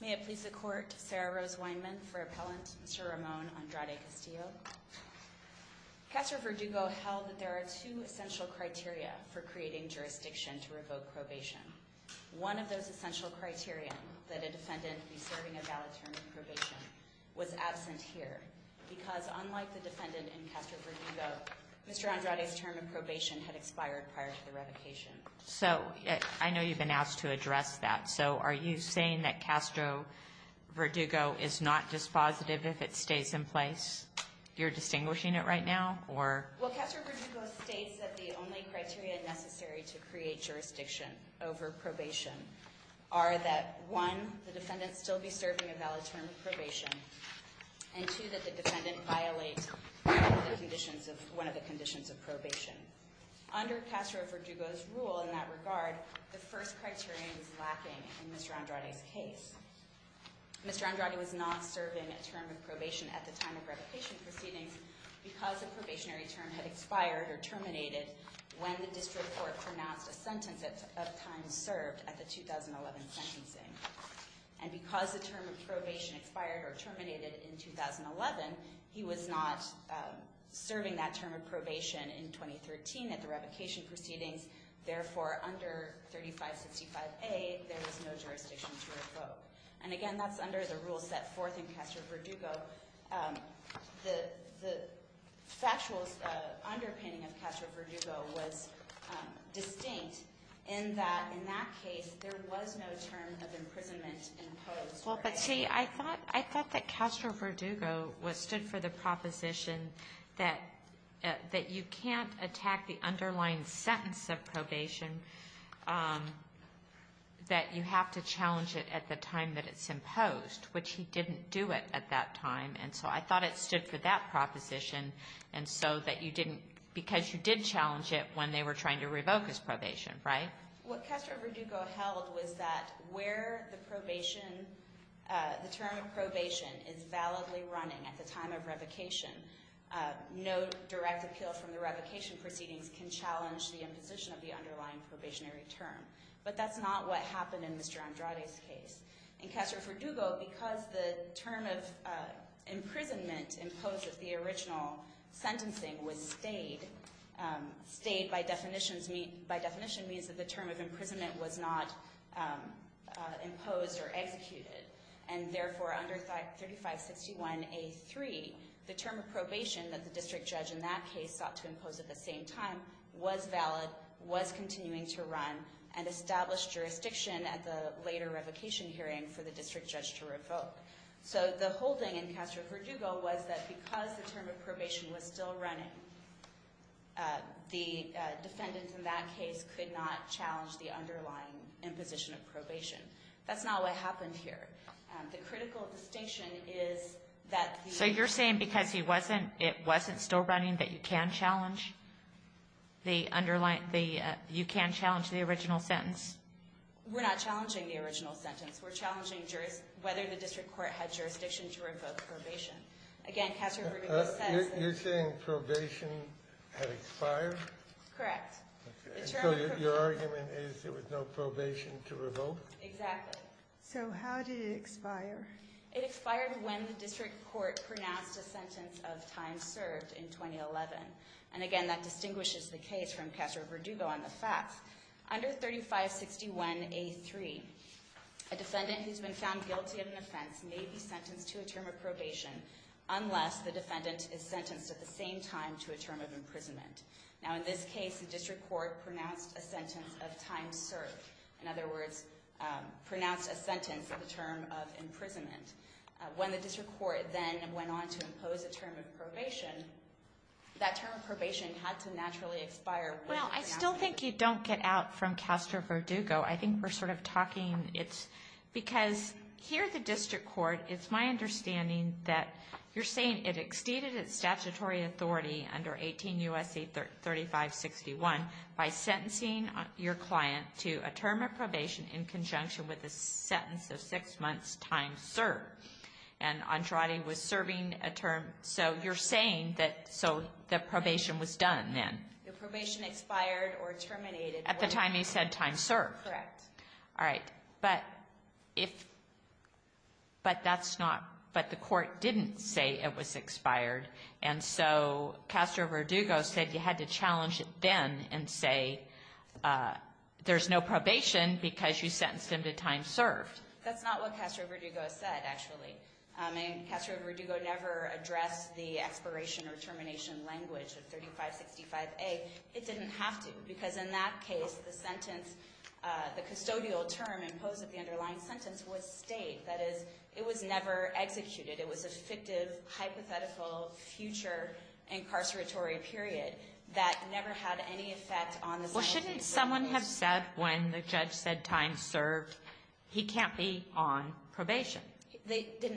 May it please the Court, Sarah Rose Weinman for Appellant, Mr. Ramon Andrade-Castillo. Castro-Verdugo held that there are two essential criteria for creating jurisdiction to revoke probation. One of those essential criteria, that a defendant be serving a valid term of probation, was absent here because unlike the defendant in Castro-Verdugo, Mr. Andrade's term of probation had expired prior to the revocation. So, I know you've been asked to address that, so are you saying that Castro-Verdugo is not dispositive if it stays in place? You're distinguishing it right now, or? Well, Castro-Verdugo states that the only criteria necessary to create jurisdiction over probation are that, one, the defendant still be serving a valid term of probation, and two, that the defendant violate one of the conditions of probation. Under Castro-Verdugo's rule in that regard, the first criteria is lacking in Mr. Andrade's case. Mr. Andrade was not serving a term of probation at the time of revocation proceedings because the probationary term had expired or terminated when the district court pronounced a sentence of time served at the 2011 sentencing. And because the term of probation expired or terminated in 2011, he was not serving that term of probation in 2013 at the revocation proceedings. Therefore, under 3565A, there is no jurisdiction to revoke. And again, that's under the rule set forth in Castro-Verdugo. The factual underpinning of Castro-Verdugo was distinct in that, in that case, there was no term of imprisonment imposed. Well, but see, I thought that Castro-Verdugo stood for the proposition that you can't attack the underlying sentence of probation, that you have to challenge it at the time that it's imposed, which he didn't do it at that time. And so I thought it stood for that proposition and so that you didn't, because you did challenge it when they were trying to revoke his probation, right? What Castro-Verdugo held was that where the probation, the term of probation is validly running at the time of revocation, no direct appeal from the revocation proceedings can challenge the imposition of the underlying probationary term. But that's not what happened in Mr. Andrade's case. In Castro-Verdugo, because the term of imprisonment imposed at the original sentencing was stayed, stayed by definition means that the term of imprisonment was not imposed or executed. And therefore, under 3561A3, the term of probation that the district judge in that case sought to impose at the same time was valid, was continuing to run, and established jurisdiction at the later revocation hearing for the district judge to revoke. So the whole thing in Castro-Verdugo was that because the term of probation was still running, the defendants in that case could not challenge the underlying imposition of probation. That's not what happened here. The critical distinction is that the ---- So you're saying because he wasn't, it wasn't still running that you can challenge the underlying, you can challenge the original sentence? We're not challenging the original sentence. We're challenging whether the district court had jurisdiction to revoke probation. Again, Castro-Verdugo says that ---- You're saying probation had expired? Correct. So your argument is there was no probation to revoke? Exactly. So how did it expire? It expired when the district court pronounced a sentence of time served in 2011. And again, that distinguishes the case from Castro-Verdugo on the facts. Under 3561A3, a defendant who's been found guilty of an offense may be sentenced to a term of probation unless the defendant is sentenced at the same time to a term of imprisonment. Now in this case, the district court pronounced a sentence of time served. In other words, pronounced a sentence of the term of imprisonment. When the district court then went on to impose a term of probation, that term of probation had to naturally expire. Well, I still think you don't get out from Castro-Verdugo. I think we're sort of talking it's because here the district court, it's my understanding that you're saying it exceeded its statutory authority under 18 U.S.C. 3561 by sentencing your client to a term of probation in conjunction with a sentence of six months' time served. And Andrade was serving a term. So you're saying that so the probation was done then. The probation expired or terminated. At the time he said time served. Correct. All right. But that's not, but the court didn't say it was expired. And so Castro-Verdugo said you had to challenge it then and say there's no probation because you sentenced him to time served. That's not what Castro-Verdugo said, actually. I mean, Castro-Verdugo never addressed the expiration or termination language of 3565A. It didn't have to because in that case, the sentence, the custodial term imposed at the underlying sentence was state. That is, it was never executed. It was a fictive, hypothetical future incarceratory period that never had any effect on the sentence. Well, shouldn't someone have said when the judge said time served, he can't be on probation?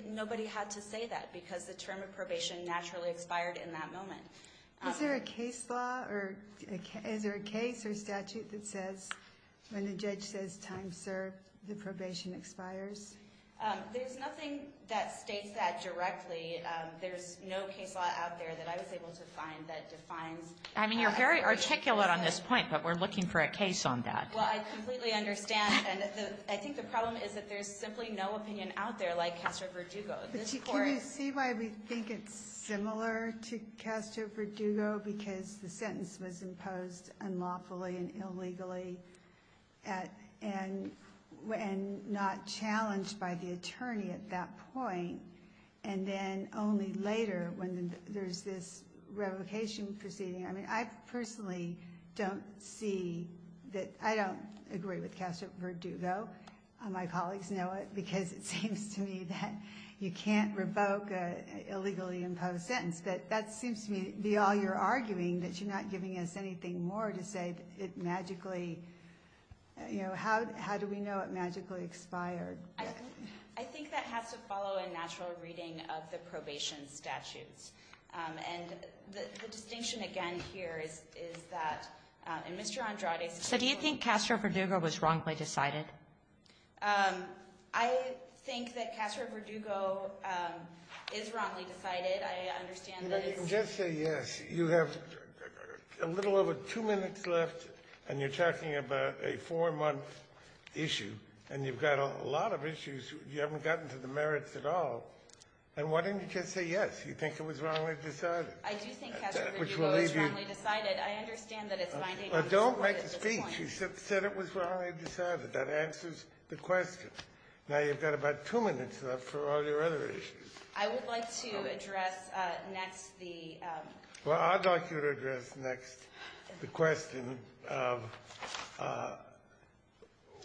Nobody had to say that because the term of probation naturally expired in that moment. Is there a case law or is there a case or statute that says when the judge says time served, the probation expires? There's nothing that states that directly. There's no case law out there that I was able to find that defines. I mean, you're very articulate on this point, but we're looking for a case on that. Well, I completely understand. And I think the problem is that there's simply no opinion out there like Castro-Verdugo. But can you see why we think it's similar to Castro-Verdugo? Because the sentence was imposed unlawfully and illegally and not challenged by the attorney at that point. And then only later when there's this revocation proceeding. I mean, I personally don't see that. I don't agree with Castro-Verdugo. My colleagues know it because it seems to me that you can't revoke an illegally imposed sentence. But that seems to me to be all you're arguing, that you're not giving us anything more to say it magically, you know, how do we know it magically expired? I think that has to follow a natural reading of the probation statutes. And the distinction again here is that in Mr. Andrade's case. So do you think Castro-Verdugo was wrongly decided? I think that Castro-Verdugo is wrongly decided. I understand that it's — You know, you can just say yes. You have a little over two minutes left, and you're talking about a four-month issue. And you've got a lot of issues. You haven't gotten to the merits at all. And why didn't you just say yes? You think it was wrongly decided. I do think Castro-Verdugo is wrongly decided. I understand that it's my — Well, don't make the speech. You said it was wrongly decided. That answers the question. Now you've got about two minutes left for all your other issues. I would like to address next the — Well, I'd like you to address next the question of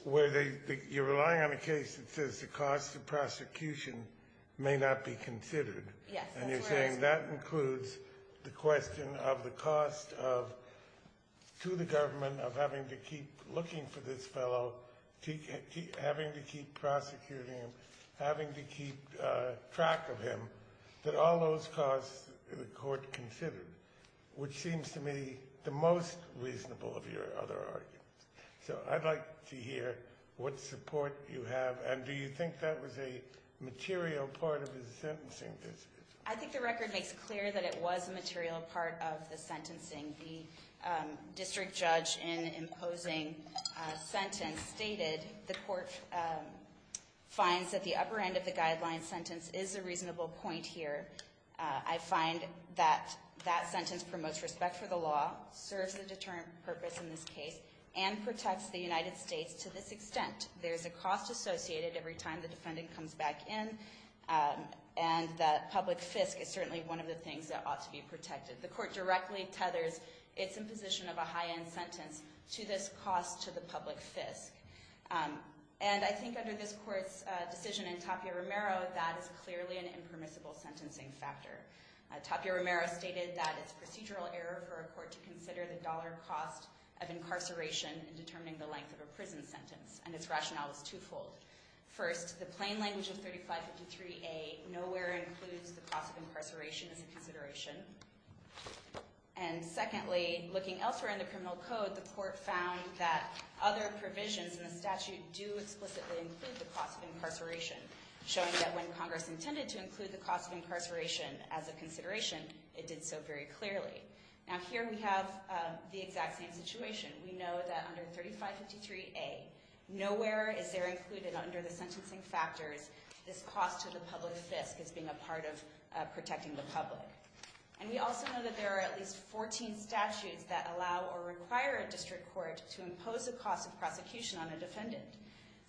whether you're relying on a case that says the cost of prosecution may not be considered. Yes. And you're saying that includes the question of the cost to the government of having to keep looking for this fellow, having to keep prosecuting him, having to keep track of him, that all those costs the court considered, which seems to me the most reasonable of your other arguments. So I'd like to hear what support you have. And do you think that was a material part of his sentencing? I think the record makes clear that it was a material part of the sentencing. The district judge in imposing a sentence stated the court finds that the upper end of the guideline sentence is a reasonable point here. I find that that sentence promotes respect for the law, serves a determined purpose in this case, and protects the United States to this extent. There's a cost associated every time the defendant comes back in, and the public fisc is certainly one of the things that ought to be protected. The court directly tethers its imposition of a high-end sentence to this cost to the public fisc. And I think under this court's decision in Tapia Romero, that is clearly an impermissible sentencing factor. Tapia Romero stated that it's procedural error for a court to consider the dollar cost of incarceration in determining the length of a prison sentence, and its rationale was twofold. First, the plain language of 3553A nowhere includes the cost of incarceration as a consideration. And secondly, looking elsewhere in the criminal code, the court found that other provisions in the statute do explicitly include the cost of incarceration, showing that when Congress intended to include the cost of incarceration as a consideration, it did so very clearly. Now here we have the exact same situation. We know that under 3553A, nowhere is there included under the sentencing factors this cost to the public fisc as being a part of protecting the public. And we also know that there are at least 14 statutes that allow or require a district court to impose a cost of prosecution on a defendant.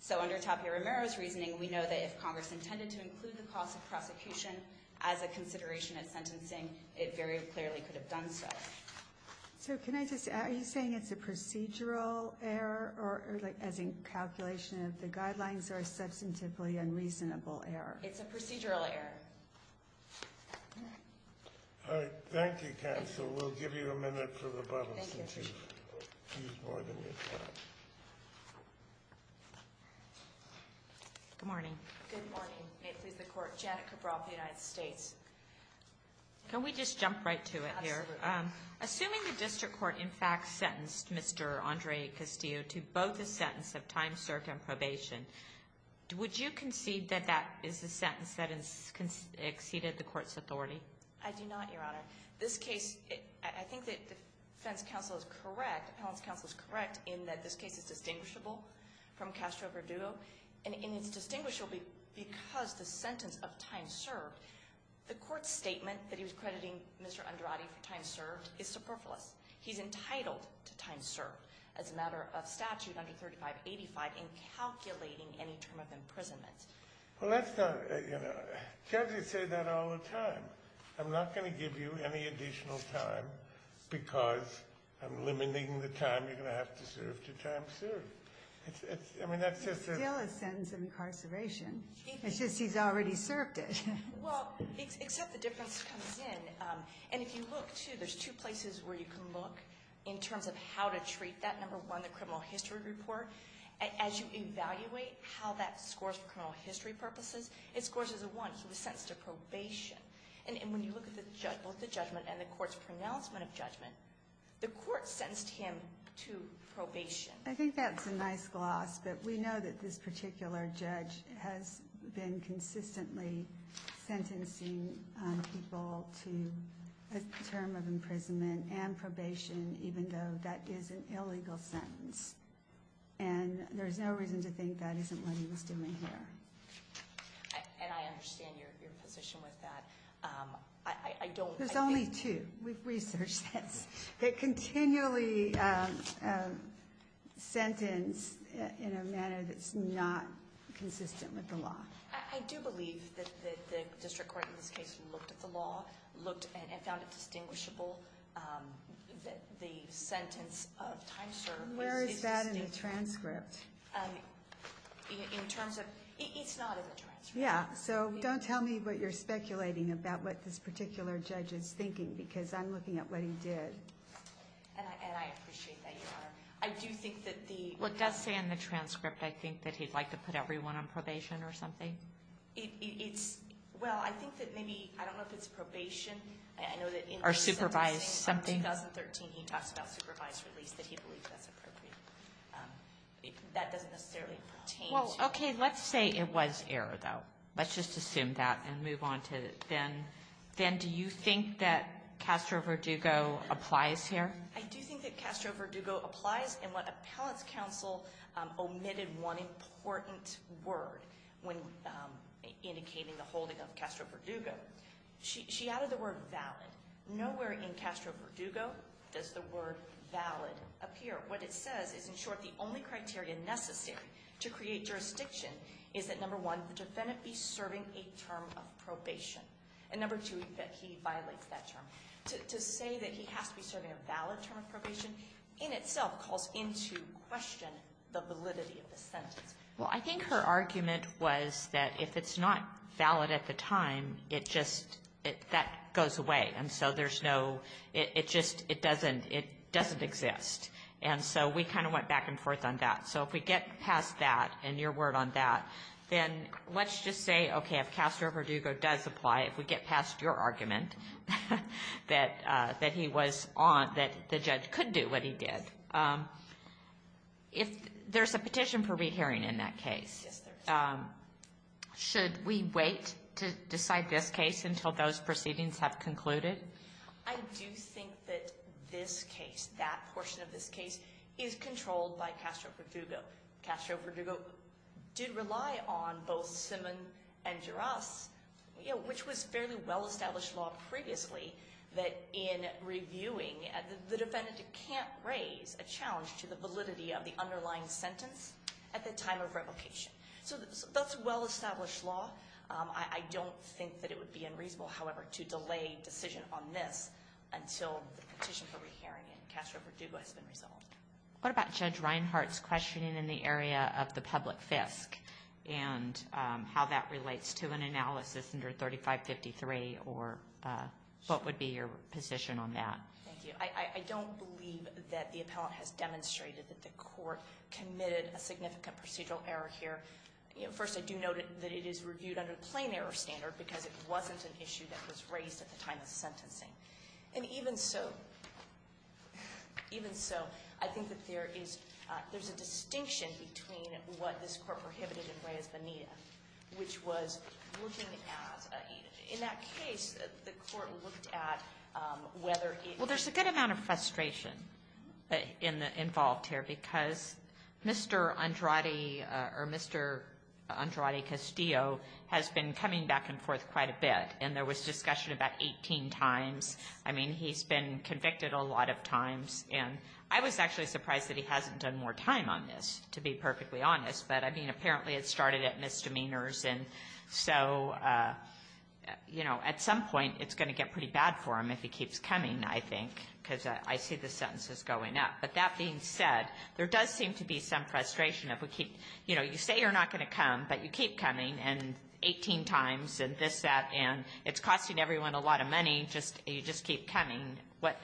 So under Tapia Romero's reasoning, we know that if Congress intended to include the cost of prosecution as a consideration of sentencing, it very clearly could have done so. So can I just ask, are you saying it's a procedural error, or as in calculation of the guidelines, or a substantively unreasonable error? It's a procedural error. All right. All right. Thank you, counsel. We'll give you a minute for rebuttal since you've used more than your time. Good morning. Good morning. May it please the Court. Janet Cabral for the United States. Can we just jump right to it here? Absolutely. Assuming the district court in fact sentenced Mr. Andre Castillo to both a sentence of time served and probation, would you concede that that is a sentence that has exceeded the court's authority? I do not, Your Honor. This case, I think that defense counsel is correct, appellant's counsel is correct in that this case is distinguishable from Castro-Verdugo, and it's distinguishable because the sentence of time served, the court's statement that he was crediting Mr. Andrade for time served is superfluous. He's entitled to time served as a matter of statute under 3585 in calculating any term of imprisonment. Well, that's not, you know, judges say that all the time. I'm not going to give you any additional time because I'm limiting the time you're going to have to serve to time served. It's still a sentence of incarceration. It's just he's already served it. Well, except the difference comes in. And if you look, too, there's two places where you can look in terms of how to treat that. Number one, the criminal history report. As you evaluate how that scores for criminal history purposes, it scores as a one. He was sentenced to probation. And when you look at both the judgment and the court's pronouncement of judgment, the court sentenced him to probation. I think that's a nice gloss, but we know that this particular judge has been consistently sentencing people to a term of imprisonment and probation, even though that is an illegal sentence. And there's no reason to think that isn't what he was doing here. And I understand your position with that. I don't. There's only two. We've researched this. They continually sentence in a manner that's not consistent with the law. I do believe that the district court in this case looked at the law, looked and found it distinguishable that the sentence of time served is Where is that in the transcript? In terms of, it's not in the transcript. Yeah, so don't tell me what you're speculating about what this particular judge is thinking, because I'm looking at what he did. And I appreciate that, Your Honor. I do think that the Well, it does say in the transcript, I think, that he'd like to put everyone on probation or something. It's, well, I think that maybe, I don't know if it's probation. Or supervised something. In 2013, he talks about supervised release, that he believes that's appropriate. That doesn't necessarily pertain to Well, okay, let's say it was error, though. Let's just assume that and move on to Ben. Ben, do you think that Castro-Verdugo applies here? I do think that Castro-Verdugo applies in what appellant's counsel omitted one important word when indicating the holding of Castro-Verdugo. She added the word valid. Nowhere in Castro-Verdugo does the word valid appear. What it says is, in short, the only criteria necessary to create jurisdiction is that, number one, the defendant be serving a term of probation. And number two, that he violates that term. To say that he has to be serving a valid term of probation in itself calls into question the validity of the sentence. Well, I think her argument was that if it's not valid at the time, it just, that goes away. And so there's no, it just, it doesn't, it doesn't exist. And so we kind of went back and forth on that. So if we get past that and your word on that, then let's just say, okay, if Castro-Verdugo does apply, if we get past your argument that he was on, that the judge could do what he did. If there's a petition for rehearing in that case, should we wait to decide this case until those proceedings have concluded? I do think that this case, that portion of this case, is controlled by Castro-Verdugo. Castro-Verdugo did rely on both Simmon and Jaraz, you know, which was fairly well-established law previously, that in reviewing the defendant can't raise a challenge to the validity of the underlying sentence at the time of revocation. So that's well-established law. I don't think that it would be unreasonable, however, to delay decision on this until the petition for rehearing in Castro-Verdugo has been resolved. What about Judge Reinhart's questioning in the area of the public fisc and how that relates to an analysis under 3553, or what would be your position on that? Thank you. I don't believe that the appellant has demonstrated that the court committed a significant procedural error here. First, I do note that it is reviewed under the plain error standard because it wasn't an issue that was raised at the time of sentencing. And even so, even so, I think that there is — there's a distinction between what this court prohibited in Reyes-Bonilla, which was looking at — in that case, the court looked at whether it — involved here because Mr. Andrade or Mr. Andrade-Castillo has been coming back and forth quite a bit. And there was discussion about 18 times. I mean, he's been convicted a lot of times. And I was actually surprised that he hasn't done more time on this, to be perfectly honest. But, I mean, apparently it started at misdemeanors. And so, you know, at some point it's going to get pretty bad for him if he keeps coming, I think, because I see the sentences going up. But that being said, there does seem to be some frustration if we keep — you know, you say you're not going to come, but you keep coming, and 18 times, and this, that, and it's costing everyone a lot of money. You just keep coming.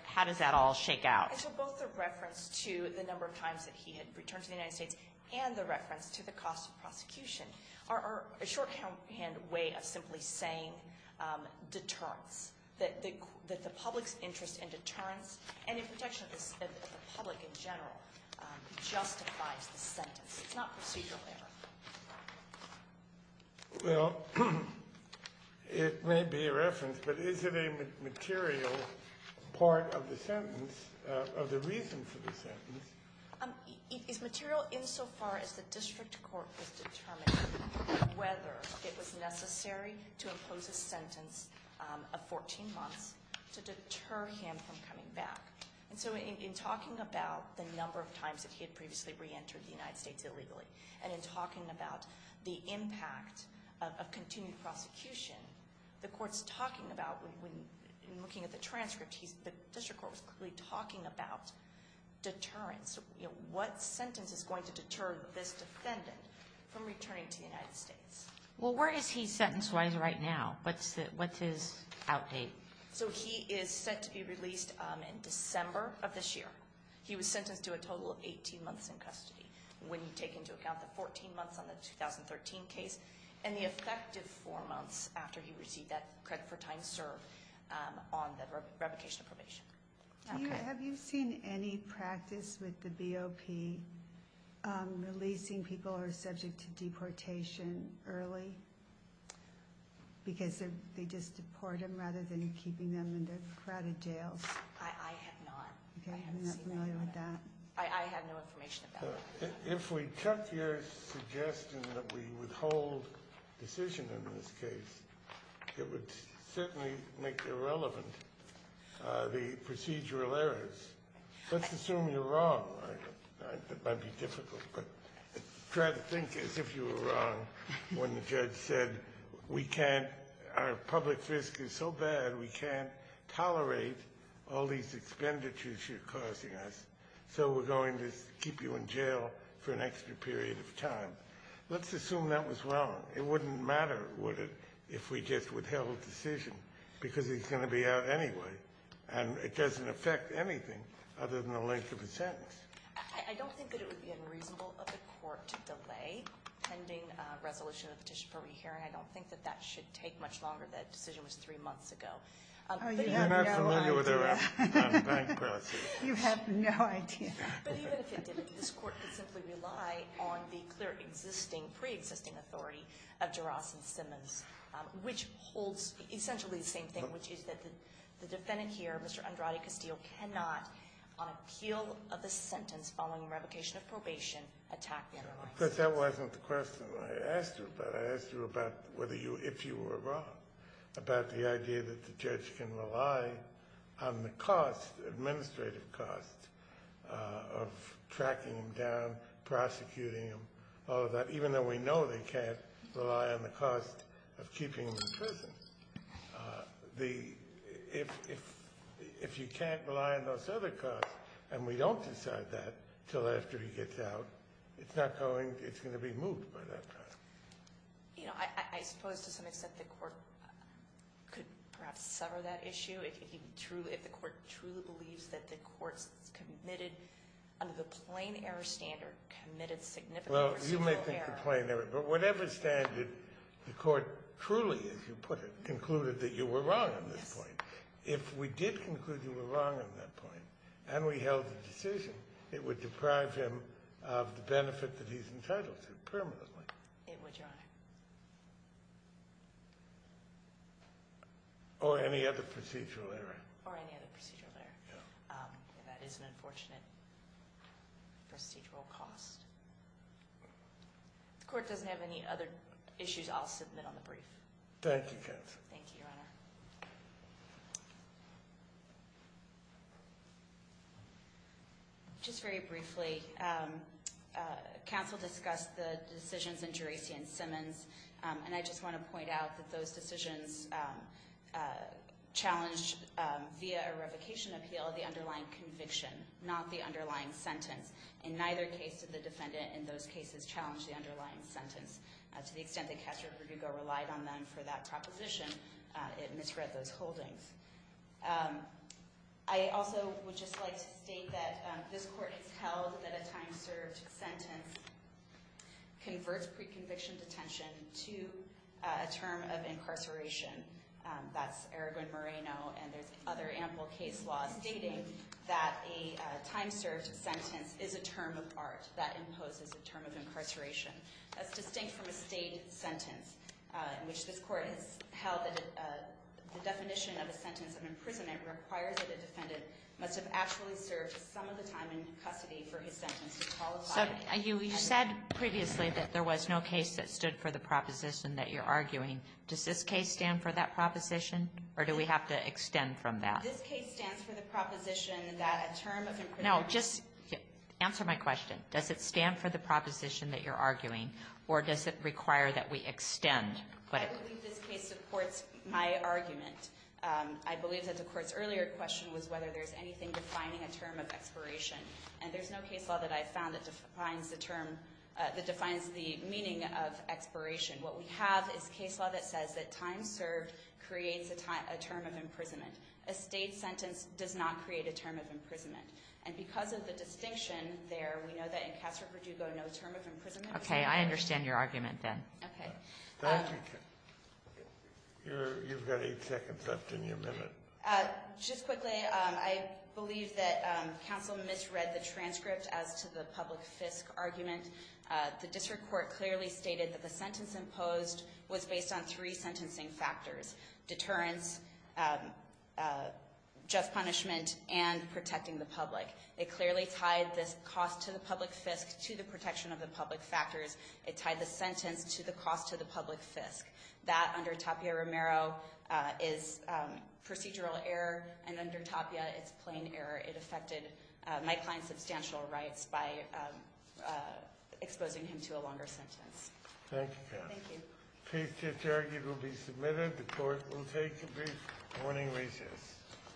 How does that all shake out? And so both the reference to the number of times that he had returned to the United States and the reference to the cost of prosecution are a shorthand way of simply saying deterrence, that the public's interest in deterrence and in protection of the public in general justifies the sentence. It's not procedural error. Well, it may be a reference, but is it a material part of the sentence, of the reason for the sentence? It's material insofar as the district court has determined whether it was necessary to impose a sentence of 14 months to deter him from coming back. And so in talking about the number of times that he had previously reentered the United States illegally and in talking about the impact of continued prosecution, the court's talking about, when looking at the transcript, the district court was clearly talking about deterrence. You know, what sentence is going to deter this defendant from returning to the United States? Well, where is he sentence-wise right now? What's his outdate? So he is set to be released in December of this year. He was sentenced to a total of 18 months in custody when you take into account the 14 months on the 2013 case and the effective four months after he received that credit for time served on the revocation of probation. Have you seen any practice with the BOP releasing people who are subject to deportation early because they just deport them rather than keeping them in the crowded jails? I have not. I have seen none of that. I have no information about that. If we took your suggestion that we withhold decision in this case, it would certainly make irrelevant the procedural errors. Let's assume you're wrong. It might be difficult, but try to think as if you were wrong when the judge said, our public risk is so bad we can't tolerate all these expenditures you're causing us, so we're going to keep you in jail for an extra period of time. Let's assume that was wrong. It wouldn't matter, would it, if we just withheld decision because he's going to be out anyway, and it doesn't affect anything other than the length of a sentence. I don't think that it would be unreasonable of the court to delay pending resolution of the petition for re-hearing. I don't think that that should take much longer. That decision was three months ago. You're not familiar with our bankruptcy laws. You have no idea. But even if it did, this court could simply rely on the clear existing, pre-existing authority of Jaross and Simmons, which holds essentially the same thing, which is that the defendant here, Mr. Andrade Castillo, cannot, on appeal of the sentence following revocation of probation, attack the other licensee. Because that wasn't the question I asked you about. I asked you about whether you, if you were wrong, about the idea that the judge can rely on the cost, administrative cost, of tracking him down, prosecuting him, all of that, even though we know they can't rely on the cost of keeping him in prison. The, if you can't rely on those other costs, and we don't decide that until after he gets out, it's not going, it's going to be moved by that time. You know, I suppose to some extent the court could perhaps sever that issue, if he truly, if the court truly believes that the court's committed, under the plain error standard, committed significant or substantial error. Well, you make the complaint, but whatever standard the court truly, as you put it, concluded that you were wrong on this point. Yes. If we did conclude you were wrong on that point, and we held the decision, it would deprive him of the benefit that he's entitled to permanently. It would, Your Honor. Or any other procedural error. Or any other procedural error. No. That is an unfortunate procedural cost. If the court doesn't have any other issues, I'll submit on the brief. Thank you, counsel. Thank you, Your Honor. Just very briefly, counsel discussed the decisions in Geraci and Simmons, and I just want to point out that those decisions challenged via a revocation appeal the underlying conviction, not the underlying sentence. In neither case did the defendant in those cases challenge the underlying sentence. To the extent that Castro-Perdigo relied on them for that proposition, it misread those holdings. I also would just like to state that this court has held that a time-served sentence converts That's Aragon-Moreno, and there's other ample case laws stating that a time-served sentence is a term of art. That imposes a term of incarceration. That's distinct from a state sentence in which this court has held that the definition of a sentence of imprisonment requires that a defendant must have actually served some of the time in custody for his sentence to qualify. So you said previously that there was no case that stood for the proposition that you're arguing. Does this case stand for that proposition, or do we have to extend from that? This case stands for the proposition that a term of imprisonment No, just answer my question. Does it stand for the proposition that you're arguing, or does it require that we extend? I believe this case supports my argument. I believe that the court's earlier question was whether there's anything defining a term of expiration. And there's no case law that I've found that defines the term, that defines the meaning of expiration. What we have is case law that says that time served creates a term of imprisonment. A state sentence does not create a term of imprisonment. And because of the distinction there, we know that in Castro-Perdugo, no term of imprisonment was used. Okay. I understand your argument then. Okay. Thank you. You've got eight seconds left in your minute. Just quickly, I believe that counsel misread the transcript as to the public fisc argument. The district court clearly stated that the sentence imposed was based on three sentencing factors, deterrence, just punishment, and protecting the public. It clearly tied this cost to the public fisc to the protection of the public factors. It tied the sentence to the cost to the public fisc. That, under Tapia-Romero, is procedural error, and under Tapia, it's plain error. It affected my client's substantial rights by exposing him to a longer sentence. Thank you, counsel. Thank you. The case to interrogate will be submitted. The court will take a brief morning recess.